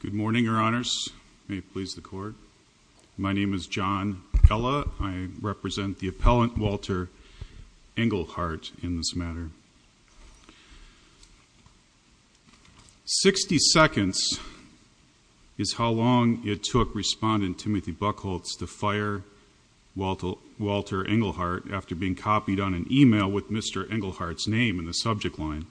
Good morning, your honors. May it please the court. My name is John Ella. I represent the appellant Walter Engelhardt in this matter. Sixty seconds is how long it took respondent Timothy Buchholz to fire Walter Engelhardt after being copied on an email with Mr. Engelhardt's name in the subject line.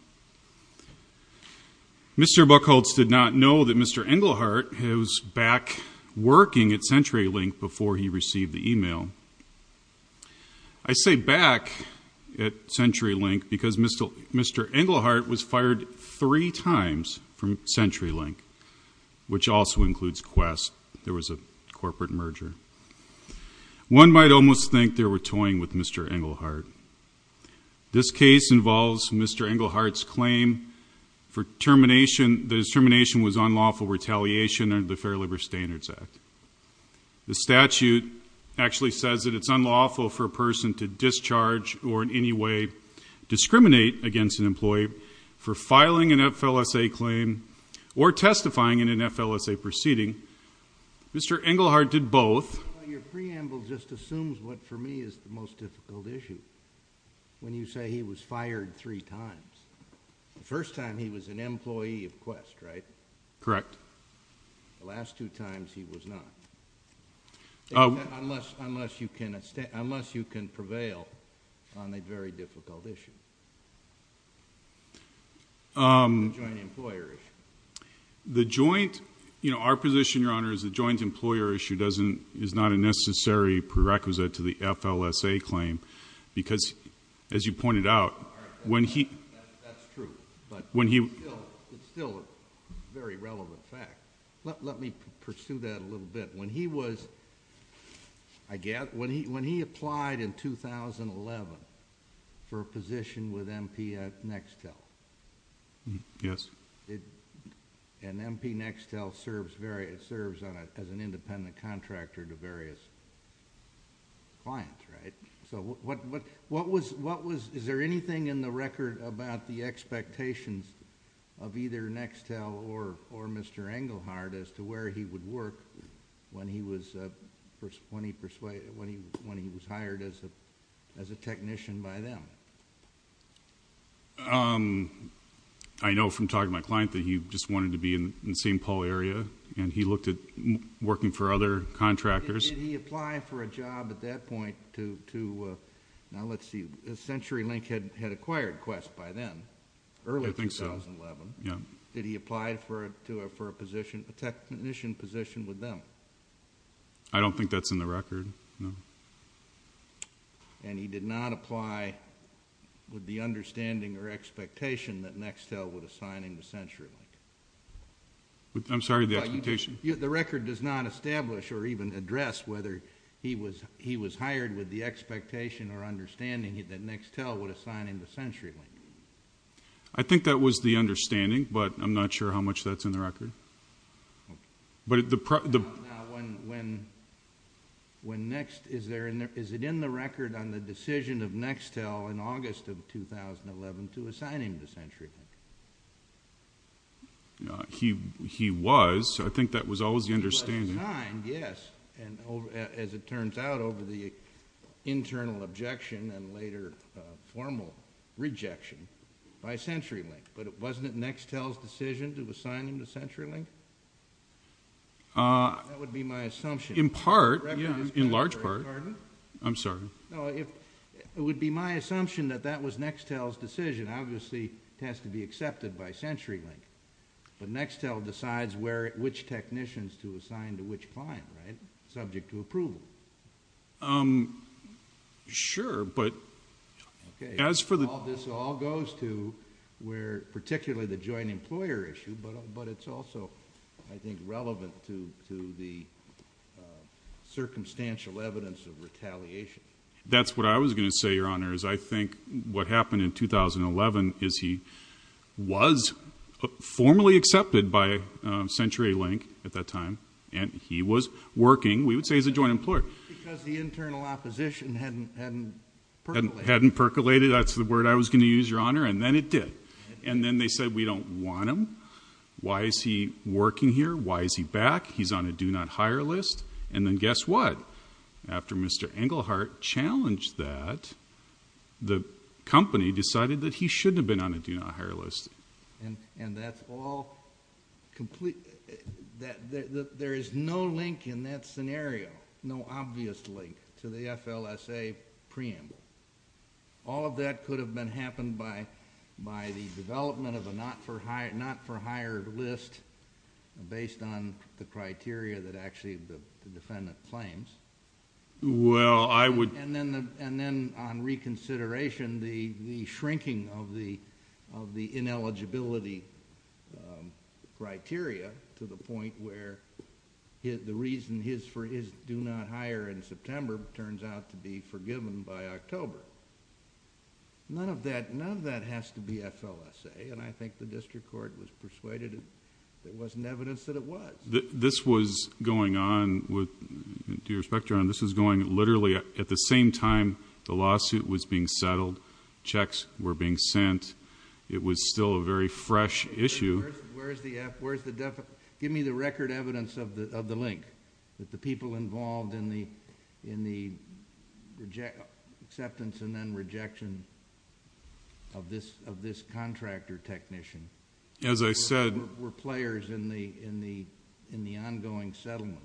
Mr. Buchholz did not know that Mr. Engelhardt was back working at CenturyLink before he received the email. I say back at CenturyLink because Mr. Engelhardt was fired three times from CenturyLink, which also includes Qwest. There was a corporate merger. One might almost think they were toying with Mr. Engelhardt. This case involves Mr. Engelhardt's claim that his termination was unlawful retaliation under the Fair Labor Standards Act. The statute actually says that it's unlawful for a person to discharge or in any way discriminate against an employee for filing an FLSA claim or testifying in an FLSA proceeding. Mr. Engelhardt did both. Your preamble just assumes what for me is the most difficult issue when you say he was fired three times. The first time he was an employee of Qwest, right? Correct. The last two times he was not. Unless you can prevail on a very difficult issue. The joint employer issue. Our position, Your Honor, is the joint employer issue is not a necessary prerequisite to the FLSA claim because, as you pointed out, when he... That's true, but it's still a very relevant fact. Let me pursue that a little bit more. In the case of Mr. Engelhardt, he was fired in 2011 for a position with M.P. Nextel. Yes. M.P. Nextel serves as an independent contractor to various clients, right? Is there anything in the record about the expectations of either Nextel or Mr. Engelhardt as to where he would work when he was hired as a technician by them? I know from talking to my client that he just wanted to be in the St. Paul area, and he looked at working for other contractors. Did he apply for a job at that point to... Now, let's see. CenturyLink had acquired Quest by them early in 2011. I think so, yes. Did he apply for a technician position with them? I don't think that's in the record, no. And he did not apply with the understanding or expectation that Nextel would assign him to CenturyLink? I'm sorry, the expectation? The record does not establish or even address whether he was hired with the expectation or understanding that Nextel would assign him to CenturyLink. I think that was the understanding, but I'm not sure how much that's in the record. Now, when Nextel... is it in the record on the decision of Nextel in August of 2011 to assign him to CenturyLink? He was. I think that was always the understanding. He was assigned, yes, as it turns out, over the internal objection and later formal rejection by CenturyLink, but wasn't it Nextel's decision to assign him to CenturyLink? That would be my assumption. In part, in large part. I'm sorry. No, it would be my assumption that that was Nextel's decision. Obviously, it has to be accepted by CenturyLink, but Nextel decides which technicians to assign to which client, right? Subject to approval. Sure, but as for the... This all goes to where, particularly the joint employer issue, but it's also, I think, relevant to the circumstantial evidence of retaliation. That's what I was going to say, Your Honor, is I think what happened in 2011 is he was formally accepted by CenturyLink at that time, and he was working, we would say, as a joint employer. Because the internal opposition hadn't percolated. Hadn't percolated. That's the word I was going to use, Your Honor, and then it did. And then they said, we don't want him. Why is he working here? Why is he back? He's on a do not hire list. And then guess what? After Mr. Englehart challenged that, the company decided that he shouldn't have been on a do not hire list. And that's all... There is no link in that scenario, no obvious link to the FLSA preamble. All of that could have been happened by the development of a not for hire list based on the criteria that actually the defendant claims. Well, I would... And then on reconsideration, the shrinking of the ineligibility criteria to the point where the reason for his do not hire in September turns out to be forgiven by October. None of that has to be FLSA, and I think the district court was persuaded that there wasn't evidence that it was. This was going on with... to your respect, Your Honor, this was going literally at the same time the lawsuit was being settled, checks were being sent. It was still a very fresh issue... Where's the F? Where's the... Give me the record evidence of the link that the people involved in the acceptance and then rejection of this contractor technician... As I said...... were players in the ongoing settlement.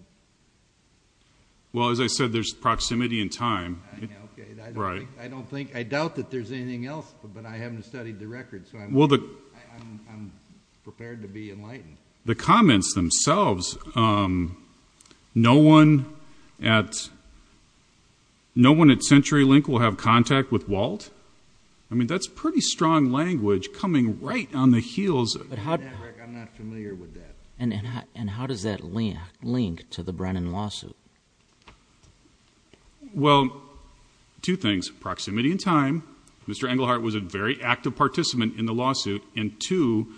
Well, as I said, there's proximity in time. Okay. I don't think... I doubt that there's anything else, but I haven't studied the record, so I'm prepared to be enlightened. The comments themselves... no one at CenturyLink will have contact with Walt? I mean, that's pretty strong language coming right on the heels... I'm not familiar with that. And how does that link to the Brennan lawsuit? Well, two things. Proximity in time. Mr. Englehart was a very active participant in the lawsuit, and two,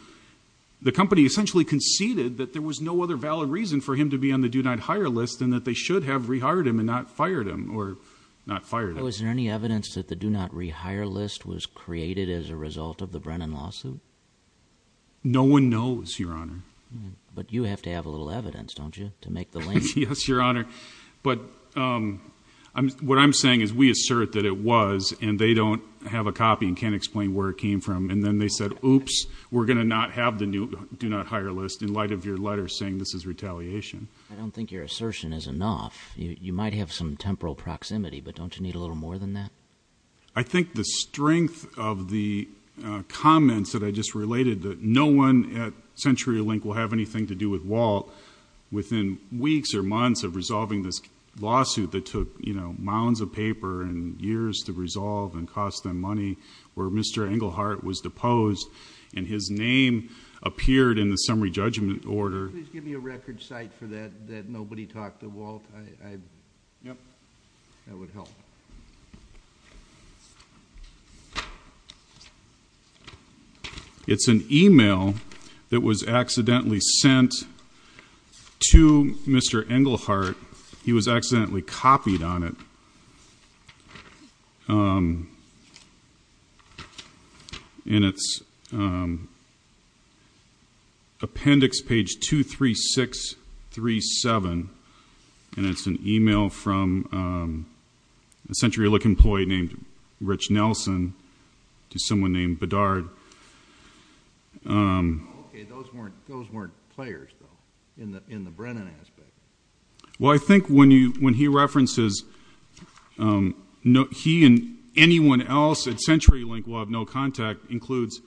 the company essentially conceded that there was no other valid reason for him to be on the do-not-hire list and that they should have rehired him and not fired him or not fired him. Was there any evidence that the do-not-rehire list was created as a result of the Brennan lawsuit? No one knows, Your Honor. But you have to have a little evidence, don't you, to make the link? Yes, Your Honor. But what I'm saying is we assert that it was, and they don't have a do-not-hire list in light of your letter saying this is retaliation. I don't think your assertion is enough. You might have some temporal proximity, but don't you need a little more than that? I think the strength of the comments that I just related, that no one at CenturyLink will have anything to do with Walt, within weeks or months of resolving this lawsuit that took, you know, mounds of paper and years to resolve and cost them money, where Mr. Englehart was deposed and his name appeared in the summary judgment order. Could you please give me a record cite for that, that nobody talked to Walt? Yep. That would help. It's an email that was accidentally sent to Mr. Englehart. He was accidentally copied on it. And it's appendix page 23637, and it's an email from a CenturyLink employee named Rich Nelson to someone named Bedard. Okay, those weren't players, though, in the Brennan aspect. Well, I think when he references he and anyone else at CenturyLink will have no contact, includes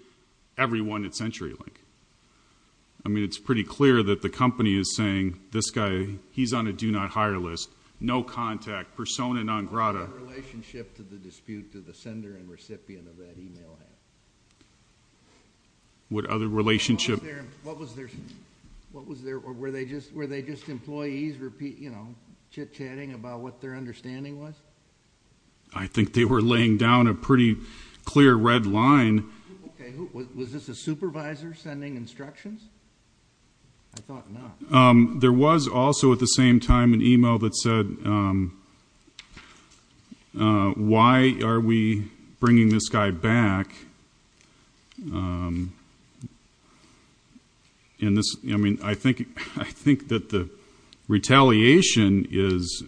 everyone at CenturyLink. I mean, it's pretty clear that the company is saying this guy, he's on a do not hire list, no contact, persona non grata. What other relationship did the dispute, did the sender and recipient of that email have? What other relationship? What was their, were they just employees, you know, chit-chatting about what their understanding was? I think they were laying down a pretty clear red line. Okay, was this a supervisor sending instructions? I thought not. There was also at the same time an email that said, why are we bringing this guy back, and this, I mean, I think that the retaliation is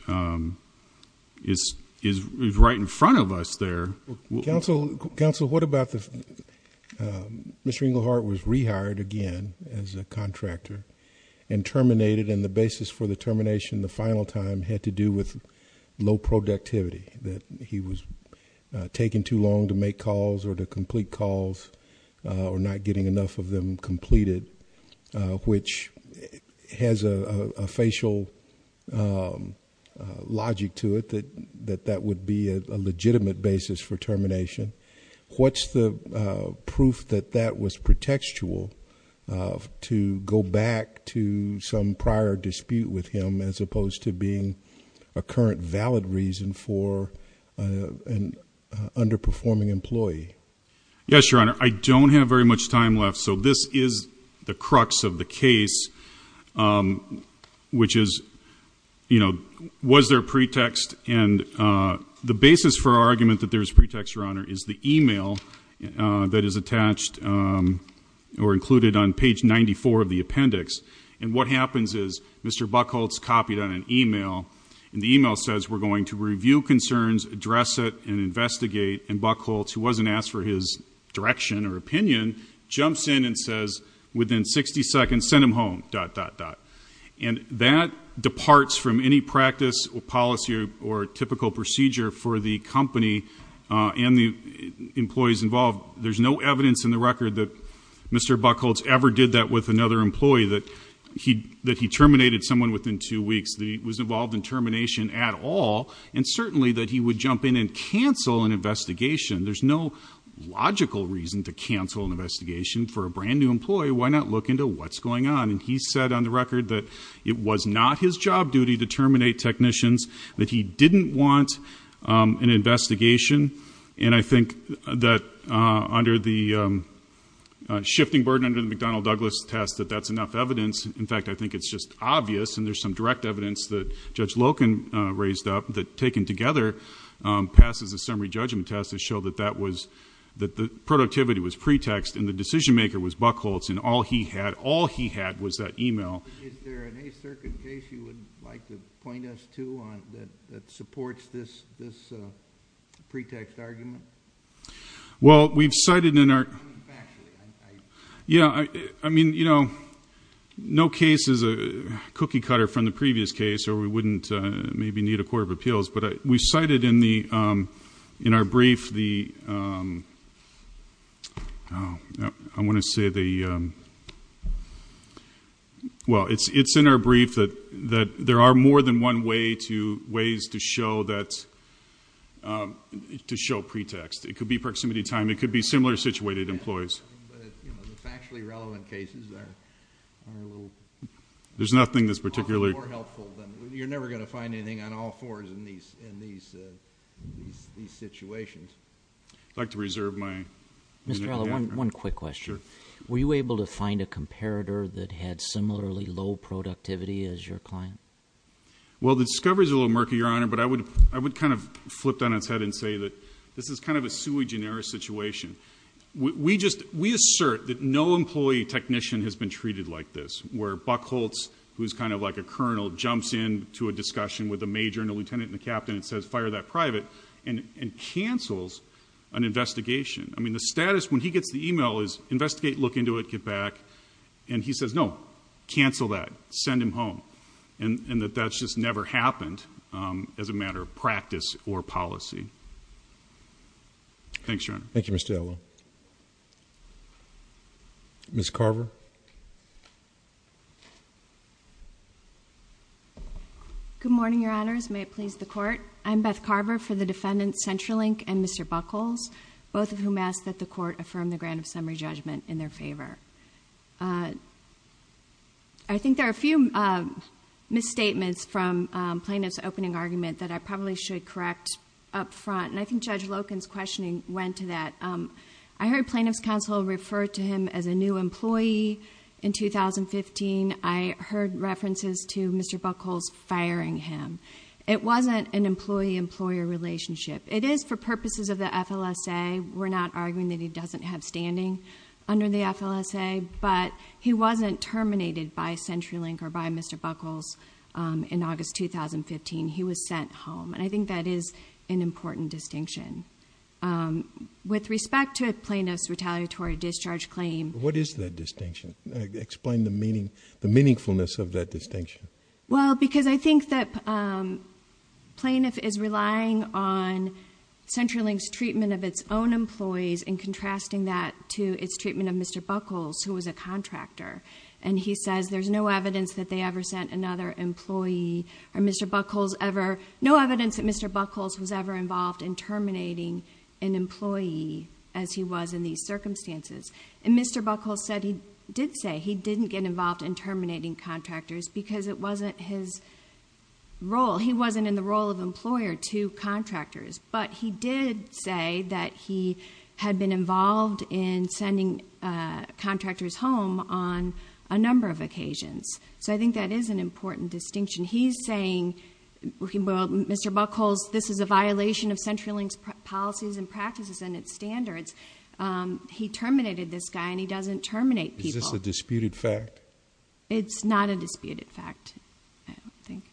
right in front of us there. Counsel, what about the, Mr. Englehart was rehired again as a contractor and terminated, and the basis for the termination the final time had to do with low productivity, that he was taking too long to make calls or to complete calls, or not getting enough of them completed, which has a facial logic to it that that would be a legitimate basis for termination. What's the proof that that was pretextual to go back to some prior dispute with him as opposed to being a current valid reason for an underperforming employee? Yes, Your Honor, I don't have very much time left, so this is the crux of the case, which is, you know, was there a pretext? And the basis for our argument that there's pretext, Your Honor, is the email that is copied on an email, and the email says, we're going to review concerns, address it, and investigate, and Buckholtz, who wasn't asked for his direction or opinion, jumps in and says within 60 seconds, send him home, dot, dot, dot, and that departs from any practice or policy or typical procedure for the company and the employees involved. There's no evidence in the record that Mr. Buckholtz ever did that with another employee, that he terminated someone within two weeks, that he was involved in termination at all, and certainly that he would jump in and cancel an investigation. There's no logical reason to cancel an investigation for a brand new employee. Why not look into what's going on? And he said on the record that it was not his job duty to terminate technicians, that he didn't want an investigation, and I think that under the shifting burden under the McDonnell Douglas test, that that's enough evidence, in fact, I think it's just obvious, and there's some direct evidence that Judge Loken raised up, that taken together, passes a summary judgment test to show that that was, that the productivity was pretext, and the decision maker was Buckholtz, and all he had, all he had was that email. Is there an A circuit case you would like to point us to that supports this pretext argument? Well, we've cited in our- Yeah, I mean, you know, no case is a cookie cutter from the previous case, or we wouldn't maybe need a court of appeals, but we've cited in the, in our brief the, I want to say the, well it's in our brief that there are more than one way to, ways to show that, to show that this was a pretext. It could be proximity time, it could be similar situated employees. But, you know, the factually relevant cases are, are a little... There's nothing that's particularly... More helpful than, you're never going to find anything on all fours in these, in these, these situations. I'd like to reserve my... Mr. Alla, one, one quick question. Sure. Were you able to find a comparator that had similarly low productivity as your client? Well, the discovery's a little murky, Your Honor, but I would, I would kind of flip down its head and say that this is kind of a sui generis situation. We just, we assert that no employee technician has been treated like this, where Buck Holtz, who's kind of like a colonel, jumps in to a discussion with a major and a lieutenant and a captain and says, fire that private, and, and cancels an investigation. I mean, the status, when he gets the email, is investigate, look into it, get back. And he says, no, cancel that, send him home, and, and that that's just never happened as a matter of practice or policy. Thanks, Your Honor. Thank you, Mr. Alla. Ms. Carver. Good morning, Your Honors. May it please the Court. I'm Beth Carver for the defendants, Central Inc. and Mr. Buck Holtz, both of whom asked that the Court affirm the grant of summary judgment in their favor. I think there are a few misstatements from plaintiff's opening argument that I probably should correct up front, and I think Judge Loken's questioning went to that. I heard plaintiff's counsel refer to him as a new employee in 2015. I heard references to Mr. Buck Holtz firing him. It wasn't an employee-employer relationship. It is for purposes of the FLSA. We're not arguing that he doesn't have standing under the FLSA, but he wasn't terminated by Central Inc. or by Mr. Buck Holtz in August 2015. He was sent home. And I think that is an important distinction. With respect to a plaintiff's retaliatory discharge claim. What is that distinction? Explain the meaning, the meaningfulness of that distinction. Well, because I think that plaintiff is relying on Central Inc.'s treatment of its own employees and contrasting that to its treatment of Mr. Buck Holtz, who was a contractor. And he says there's no evidence that they ever sent another employee, or Mr. Buck Holtz ever, no evidence that Mr. Buck Holtz was ever involved in terminating an employee as he was in these circumstances. And Mr. Buck Holtz said, he did say he didn't get involved in terminating contractors because it wasn't his role. He wasn't in the role of employer to contractors. But he did say that he had been involved in sending contractors home on a number of occasions. So I think that is an important distinction. He's saying, well, Mr. Buck Holtz, this is a violation of Central Inc.'s policies and practices and its standards. He terminated this guy and he doesn't terminate people. Is this a disputed fact? It's not a disputed fact, I don't think.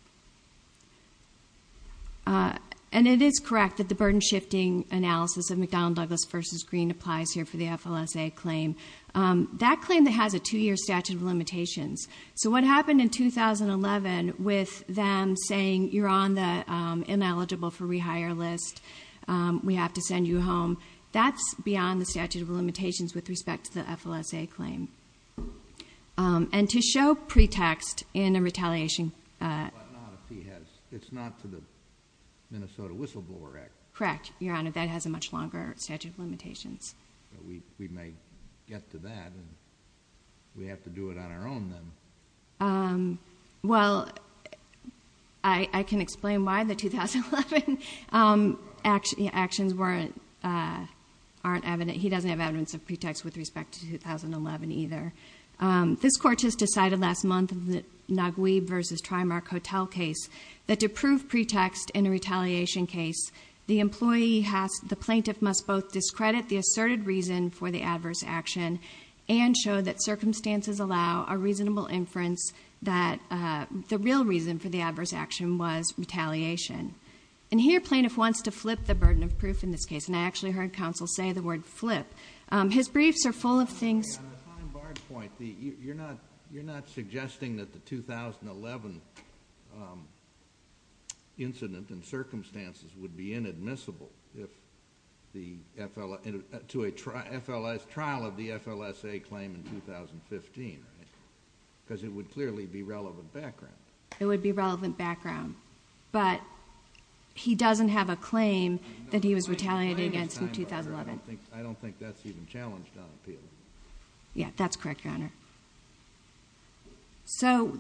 And it is correct that the burden-shifting analysis of McDonnell Douglas v. Green applies here for the FLSA claim. That claim has a two-year statute of limitations. So what happened in 2011 with them saying, you're on the ineligible for rehire list, we have to send you home, that's beyond the statute of limitations with respect to the And to show pretext in a retaliation But not if he has, it's not to the Minnesota Whistleblower Act. Correct, Your Honor, that has a much longer statute of limitations. But we may get to that and we have to do it on our own then. Well, I can explain why the 2011 actions weren't, aren't evident. He doesn't have evidence of pretext with respect to 2011 either. This court has decided last month in the Naguib v. Trimark Hotel case that to prove pretext in a retaliation case, the employee has, the plaintiff must both discredit the asserted reason for the adverse action, and show that circumstances allow a reasonable inference that the real reason for the adverse action was retaliation. And here plaintiff wants to flip the burden of proof in this case, and I actually heard counsel say the word flip. His briefs are full of things. On a time barred point, you're not suggesting that the 2011 incident and circumstances would be inadmissible if the FLS, to a FLS, trial of the FLSA claim in 2015, right? Cuz it would clearly be relevant background. It would be relevant background. But he doesn't have a claim that he was retaliated against in 2011. I don't think that's even challenged on appeal. Yeah, that's correct, Your Honor. So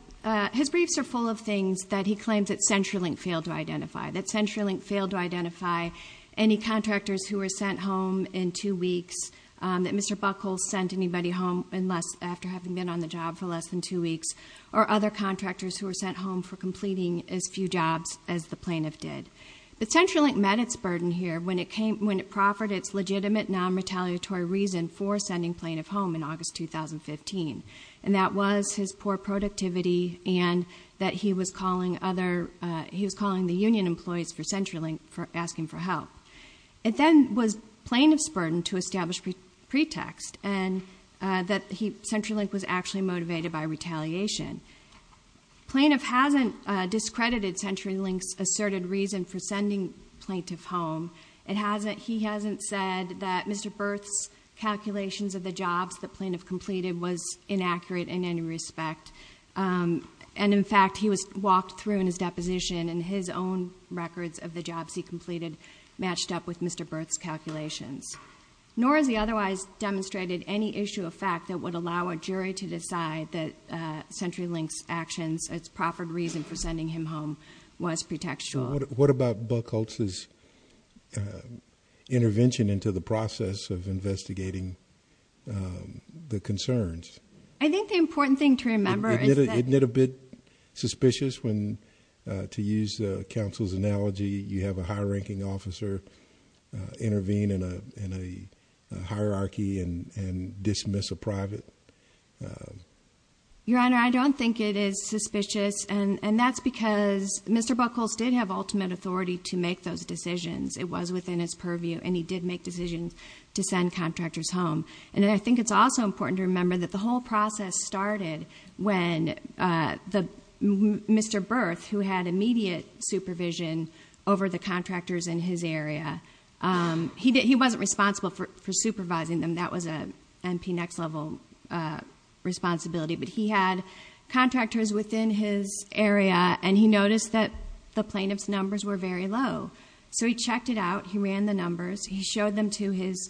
his briefs are full of things that he claims that CenturyLink failed to identify. That CenturyLink failed to identify any contractors who were sent home in two weeks. That Mr. Buckle sent anybody home after having been on the job for less than two weeks. Or other contractors who were sent home for completing as few jobs as the plaintiff did. But CenturyLink met its burden here. When it came, when it proffered its legitimate non-retaliatory reason for sending plaintiff home in August 2015. And that was his poor productivity and that he was calling other, he was calling the union employees for CenturyLink for asking for help. It then was plaintiff's burden to establish pretext and that he, CenturyLink was actually motivated by retaliation. Plaintiff hasn't discredited CenturyLink's asserted reason for sending plaintiff home. It hasn't, he hasn't said that Mr. Berth's calculations of the jobs the plaintiff completed was inaccurate in any respect. And in fact, he was walked through in his deposition and his own records of the jobs he completed matched up with Mr. Berth's calculations. Nor has he otherwise demonstrated any issue of fact that would allow a jury to decide that CenturyLink's actions, its proffered reason for sending him home was pretextual. What about Buckholtz's intervention into the process of investigating the concerns? I think the important thing to remember is that- Isn't it a bit suspicious when, to use the counsel's analogy, you have a high ranking officer intervene in a hierarchy and dismiss a private? Your Honor, I don't think it is suspicious, and that's because Mr. Buckholtz did have ultimate authority to make those decisions. It was within his purview, and he did make decisions to send contractors home. And I think it's also important to remember that the whole process started when Mr. Berth, who had immediate supervision over the contractors in his area, he wasn't responsible for supervising them, that was a MP next level responsibility. But he had contractors within his area, and he noticed that the plaintiff's numbers were very low. So he checked it out, he ran the numbers, he showed them to his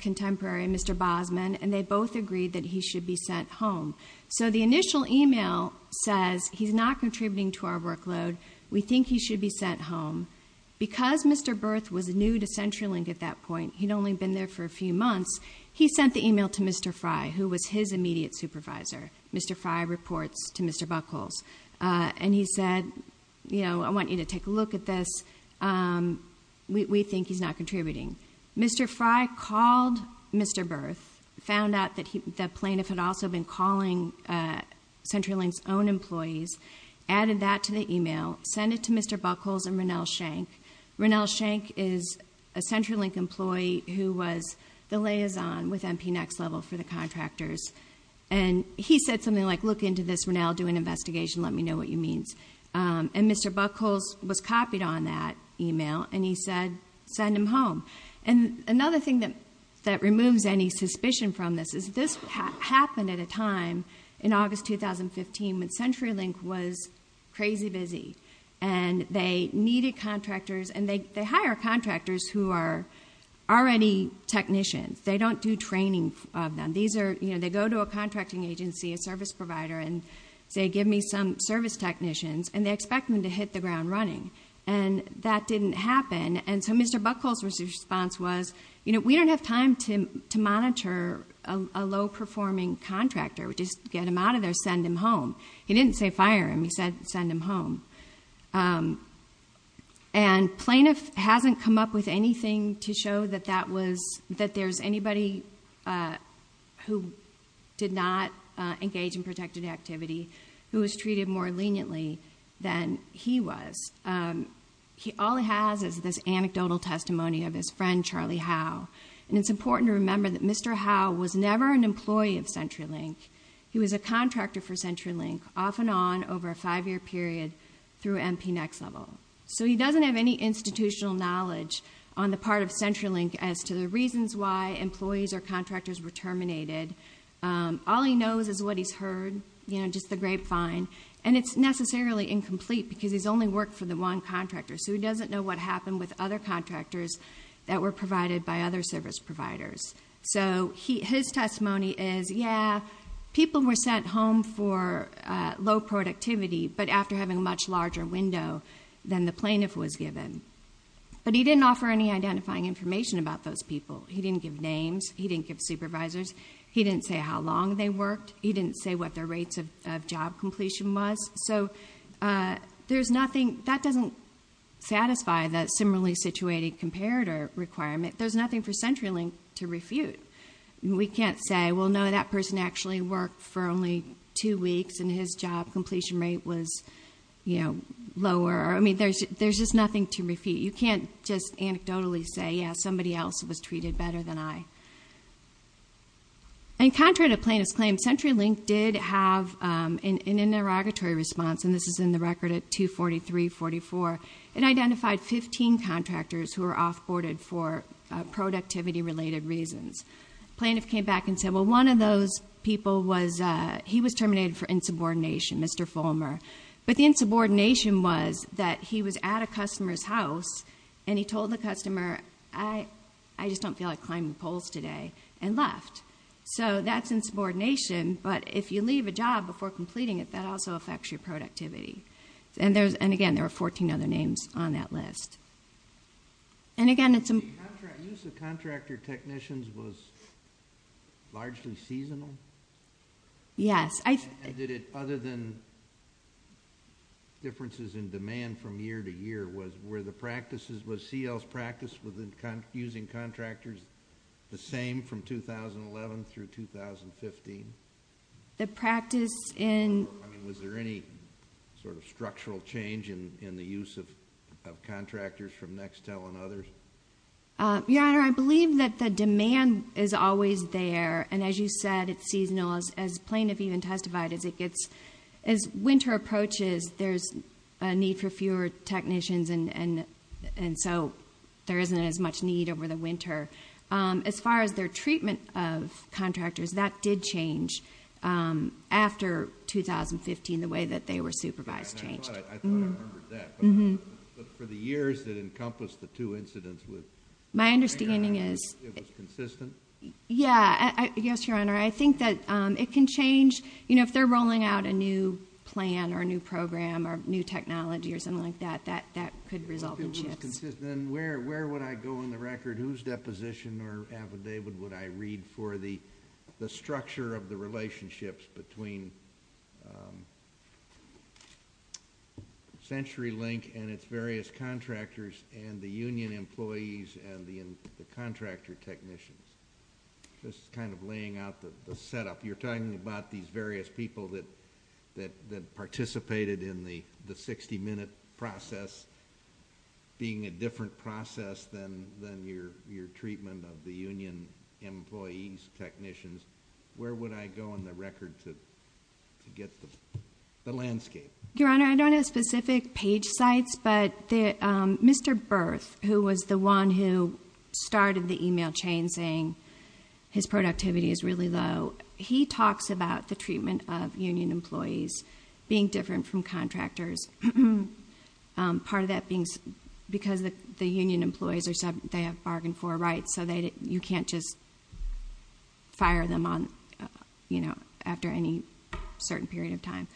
contemporary, Mr. Bosman, and they both agreed that he should be sent home. So the initial email says, he's not contributing to our workload, we think he should be sent home. Because Mr. Berth was new to CenturyLink at that point, he'd only been there for a few months, he sent the email to Mr. Fry, who was his immediate supervisor, Mr. Fry reports to Mr. Buckholtz. And he said, I want you to take a look at this, we think he's not contributing. Mr. Fry called Mr. Berth, found out that the plaintiff had also been calling CenturyLink's own employees. Added that to the email, sent it to Mr. Buckholtz and Ronell Shank. Ronell Shank is a CenturyLink employee who was the liaison with MP Next Level for the contractors. And he said something like, look into this, Ronell, do an investigation, let me know what you mean. And Mr. Buckholtz was copied on that email, and he said, send him home. And another thing that removes any suspicion from this is this happened at a time in August 2015 when CenturyLink was crazy busy. And they needed contractors, and they hire contractors who are already technicians. They don't do training of them. They go to a contracting agency, a service provider, and say, give me some service technicians, and they expect them to hit the ground running. And that didn't happen, and so Mr. Buckholtz's response was, we don't have time to monitor a low-performing contractor, just get him out of there, send him home. He didn't say fire him, he said send him home. And plaintiff hasn't come up with anything to show that there's anybody who did not engage in protected activity who was treated more leniently than he was. All he has is this anecdotal testimony of his friend, Charlie Howe. And it's important to remember that Mr. Howe was never an employee of CenturyLink. He was a contractor for CenturyLink off and on over a five year period through MP Next Level. So he doesn't have any institutional knowledge on the part of CenturyLink as to the reasons why employees or contractors were terminated. All he knows is what he's heard, just the grapevine. And it's necessarily incomplete because he's only worked for the one contractor. So he doesn't know what happened with other contractors that were provided by other service providers. So his testimony is, yeah, people were sent home for low productivity but after having a much larger window than the plaintiff was given. But he didn't offer any identifying information about those people. He didn't give names, he didn't give supervisors, he didn't say how long they worked, he didn't say what their rates of job completion was, so there's nothing. That doesn't satisfy the similarly situated comparator requirement. There's nothing for CenturyLink to refute. We can't say, well, no, that person actually worked for only two weeks and his job completion rate was lower. I mean, there's just nothing to refute. You can't just anecdotally say, yeah, somebody else was treated better than I. And contrary to plaintiff's claim, CenturyLink did have an interrogatory response, and this is in the record at 243-44. It identified 15 contractors who were off-boarded for productivity-related reasons. Plaintiff came back and said, well, one of those people was, he was terminated for insubordination, Mr. Fulmer. But the insubordination was that he was at a customer's house and he told the customer, I just don't feel like climbing poles today, and left. So that's insubordination, but if you leave a job before completing it, that also affects your productivity. And again, there are 14 other names on that list. And again, it's a- The use of contractor technicians was largely seasonal? Yes, I- And did it, other than differences in demand from year to year, was CL's practice with using contractors the same from 2011 through 2015? The practice in- Was there any sort of structural change in the use of contractors from Nextel and others? Your Honor, I believe that the demand is always there, and as you said, it's seasonal. As plaintiff even testified, as winter approaches, there's a need for fewer technicians, and so there isn't as much need over the winter. As far as their treatment of contractors, that did change after 2015, the way that they were supervised changed. I thought I remembered that, but for the years that encompassed the two incidents with- My understanding is- It was consistent? Yeah, yes, Your Honor. I think that it can change, if they're rolling out a new plan or a new program or new technology or something like that, that could result in shifts. Then where would I go on the record? Whose deposition or affidavit would I read for the structure of the relationships between CenturyLink and its various contractors and the union employees and the contractor technicians? Just kind of laying out the setup. You're talking about these various people that participated in the 60-minute process being a different process than your treatment of the union employees, technicians. Where would I go on the record to get the landscape? Your Honor, I don't have specific page sites, but Mr. Berth, who was the one who started the email chain saying his productivity is really low, he talks about the treatment of union employees being different from contractors, part of that being because the union employees, they have bargain for rights, so you can't just fire them after any certain period of time.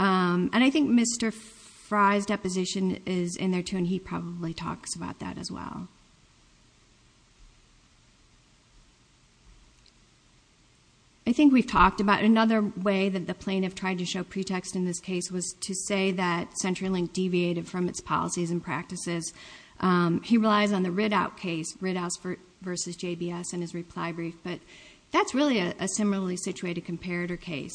I think Mr. Fry's deposition is in there too, and he probably talks about that as well. I think we've talked about another way that the plaintiff tried to show pretext in this case was to say that CenturyLink deviated from its policies and practices. He relies on the Riddouse case, Riddouse versus JBS in his reply brief, but that's really a similarly situated comparator case.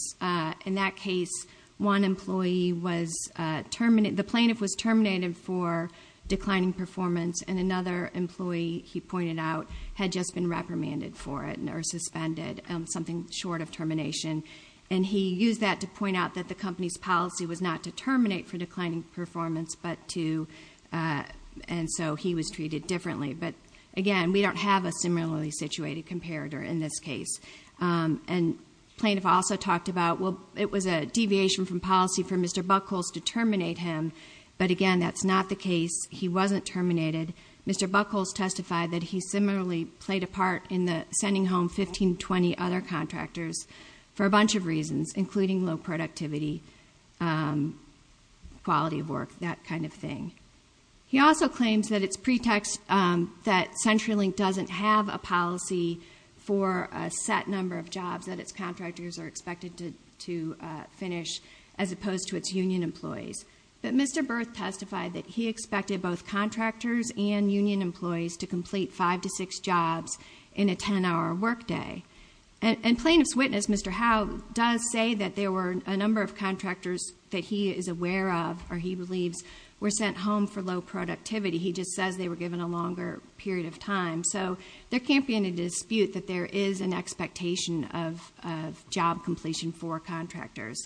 In that case, the plaintiff was terminated for declining performance, and another employee, he pointed out, had just been reprimanded for it or suspended, something short of termination, and he used that to point out that the company's policy was not to terminate for declining performance, and so he was treated differently. Again, we don't have a similarly situated comparator in this case. Plaintiff also talked about, well, it was a deviation from policy for Mr. Buckholz to terminate him, but again, that's not the case. He wasn't terminated. Mr. Buckholz testified that he similarly played a part in sending home 15, 20 other contractors. For a bunch of reasons, including low productivity, quality of work, that kind of thing. He also claims that it's pretext that CenturyLink doesn't have a policy for a set number of jobs that its contractors are expected to finish as opposed to its union employees, but Mr. Berth testified that he expected both contractors and union employees to complete five to six jobs in a 10-hour workday. And plaintiff's witness, Mr. Howe, does say that there were a number of contractors that he is aware of, or he believes were sent home for low productivity. He just says they were given a longer period of time. So there can't be any dispute that there is an expectation of job completion for contractors.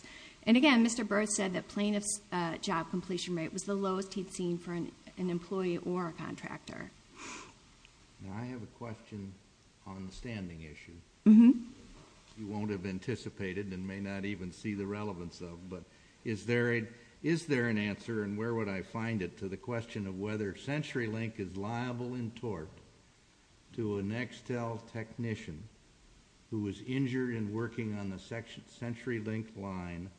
And again, Mr. Berth said that plaintiff's job completion rate was the lowest he'd seen for an employee or a contractor. Now I have a question on the standing issue. You won't have anticipated and may not even see the relevance of, but is there an answer and where would I find it to the question of whether CenturyLink is liable in tort to a Nextel technician who was injured in working on the CenturyLink line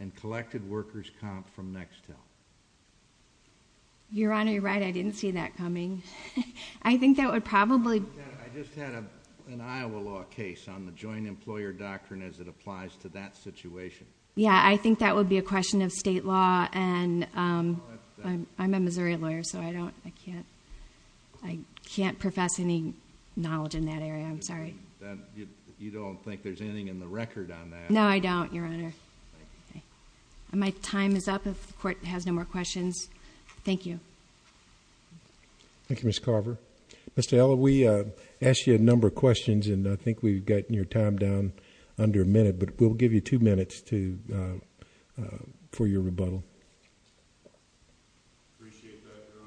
and collected workers' comp from Nextel? Your Honor, you're right. I didn't see that coming. I think that would probably. I just had an Iowa law case on the joint employer doctrine as it applies to that situation. Yeah, I think that would be a question of state law. And I'm a Missouri lawyer, so I can't profess any knowledge in that area. I'm sorry. You don't think there's anything in the record on that? No, I don't, Your Honor. Okay. My time is up if the Court has no more questions. Thank you. Thank you, Ms. Carver. Mr. Eller, we asked you a number of questions and I think we've gotten your time down under a minute, but we'll give you two minutes for your rebuttal. Appreciate that, Your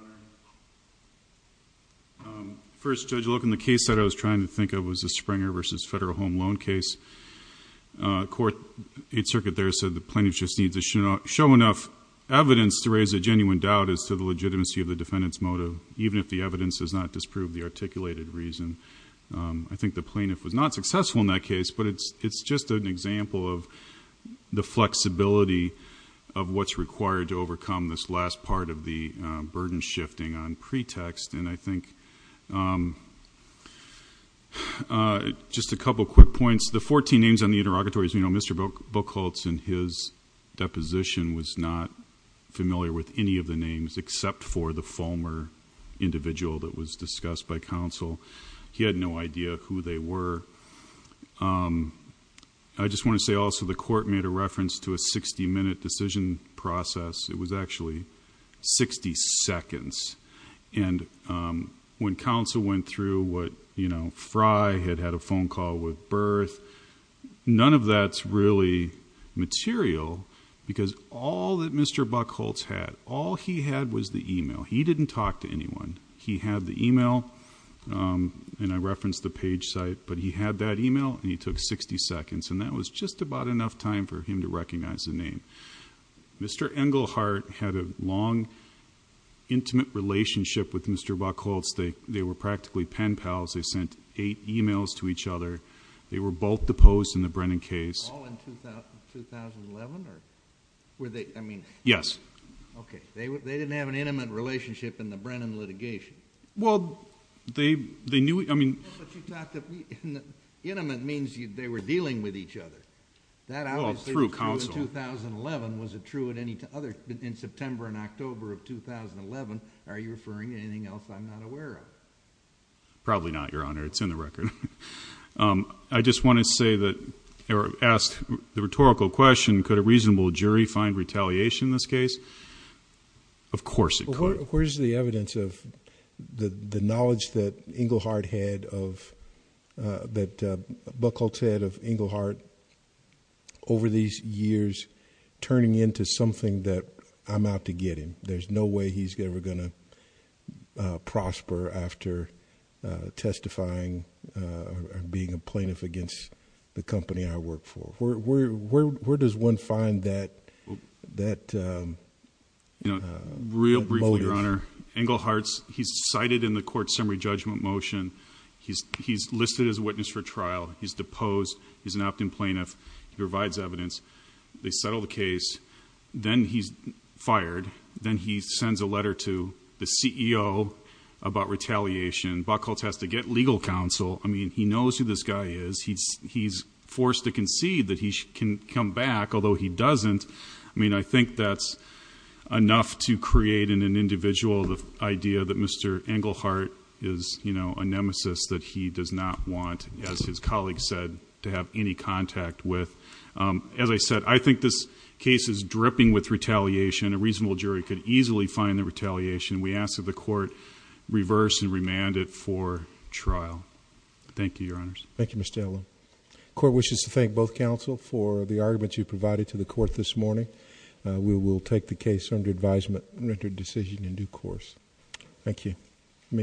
Honor. First, Judge, looking at the case that I was trying to think of was the Springer v. Federal Home Loan case. The Court, Eighth Circuit there said the plaintiff just needs to show enough evidence to raise a genuine doubt as to the legitimacy of the defendant's motive, even if the evidence does not disprove the articulated reason. I think the plaintiff was not successful in that case, but it's just an example of the flexibility of what's required to overcome this last part of the burden shifting on pretext. I think just a couple of quick points. The 14 names on the interrogatories, Mr. Buchholz and his deposition was not familiar with any of the names except for the former individual that was discussed by counsel. He had no idea who they were. I just want to say also the Court made a reference to a 60-minute decision process. It was actually 60 seconds. When counsel went through what Fry had had a phone call with Berth, none of that's really material because all that Mr. Buchholz had, all he had was the email. He didn't talk to anyone. He had the email, and I referenced the page site, but he had that email, and he took 60 seconds, and that was just about enough time for him to recognize the name. Mr. Engelhardt had a long, intimate relationship with Mr. Buchholz. They were practically pen pals. They sent eight emails to each other. They were both deposed in the Brennan case. All in 2011, or were they? I mean... Yes. Okay. They didn't have an intimate relationship in the Brennan litigation. Well, they knew... But you talked... intimate means they were dealing with each other. That obviously... Well, through counsel. Was it true in September and October of 2011? Are you referring to anything else I'm not aware of? Probably not, Your Honor. It's in the record. I just want to say that, or ask the rhetorical question, could a reasonable jury find retaliation in this case? Of course it could. Where's the evidence of the knowledge that Engelhardt had of... that turning into something that I'm out to get him. There's no way he's ever going to prosper after testifying or being a plaintiff against the company I work for. Where does one find that... that... Real briefly, Your Honor. Engelhardt, he's cited in the court summary judgment motion. He's listed as a witness for trial. He's deposed. He's an opt-in plaintiff. He provides evidence. They settle the case. Then he's fired. Then he sends a letter to the CEO about retaliation. Buchholz has to get legal counsel. I mean, he knows who this guy is. He's forced to concede that he can come back, although he doesn't. I mean, I think that's enough to create in an individual the idea that Mr. Engelhardt is a nemesis that he does not want, as his colleague said, to have any contact with. As I said, I think this case is dripping with retaliation. A reasonable jury could easily find the retaliation. We ask that the court reverse and remand it for trial. Thank you, Your Honors. Thank you, Mr. Elwood. The court wishes to thank both counsel for the arguments you provided to the court this morning. We will take the case under advisement and render decision in due course. Thank you. Thank you.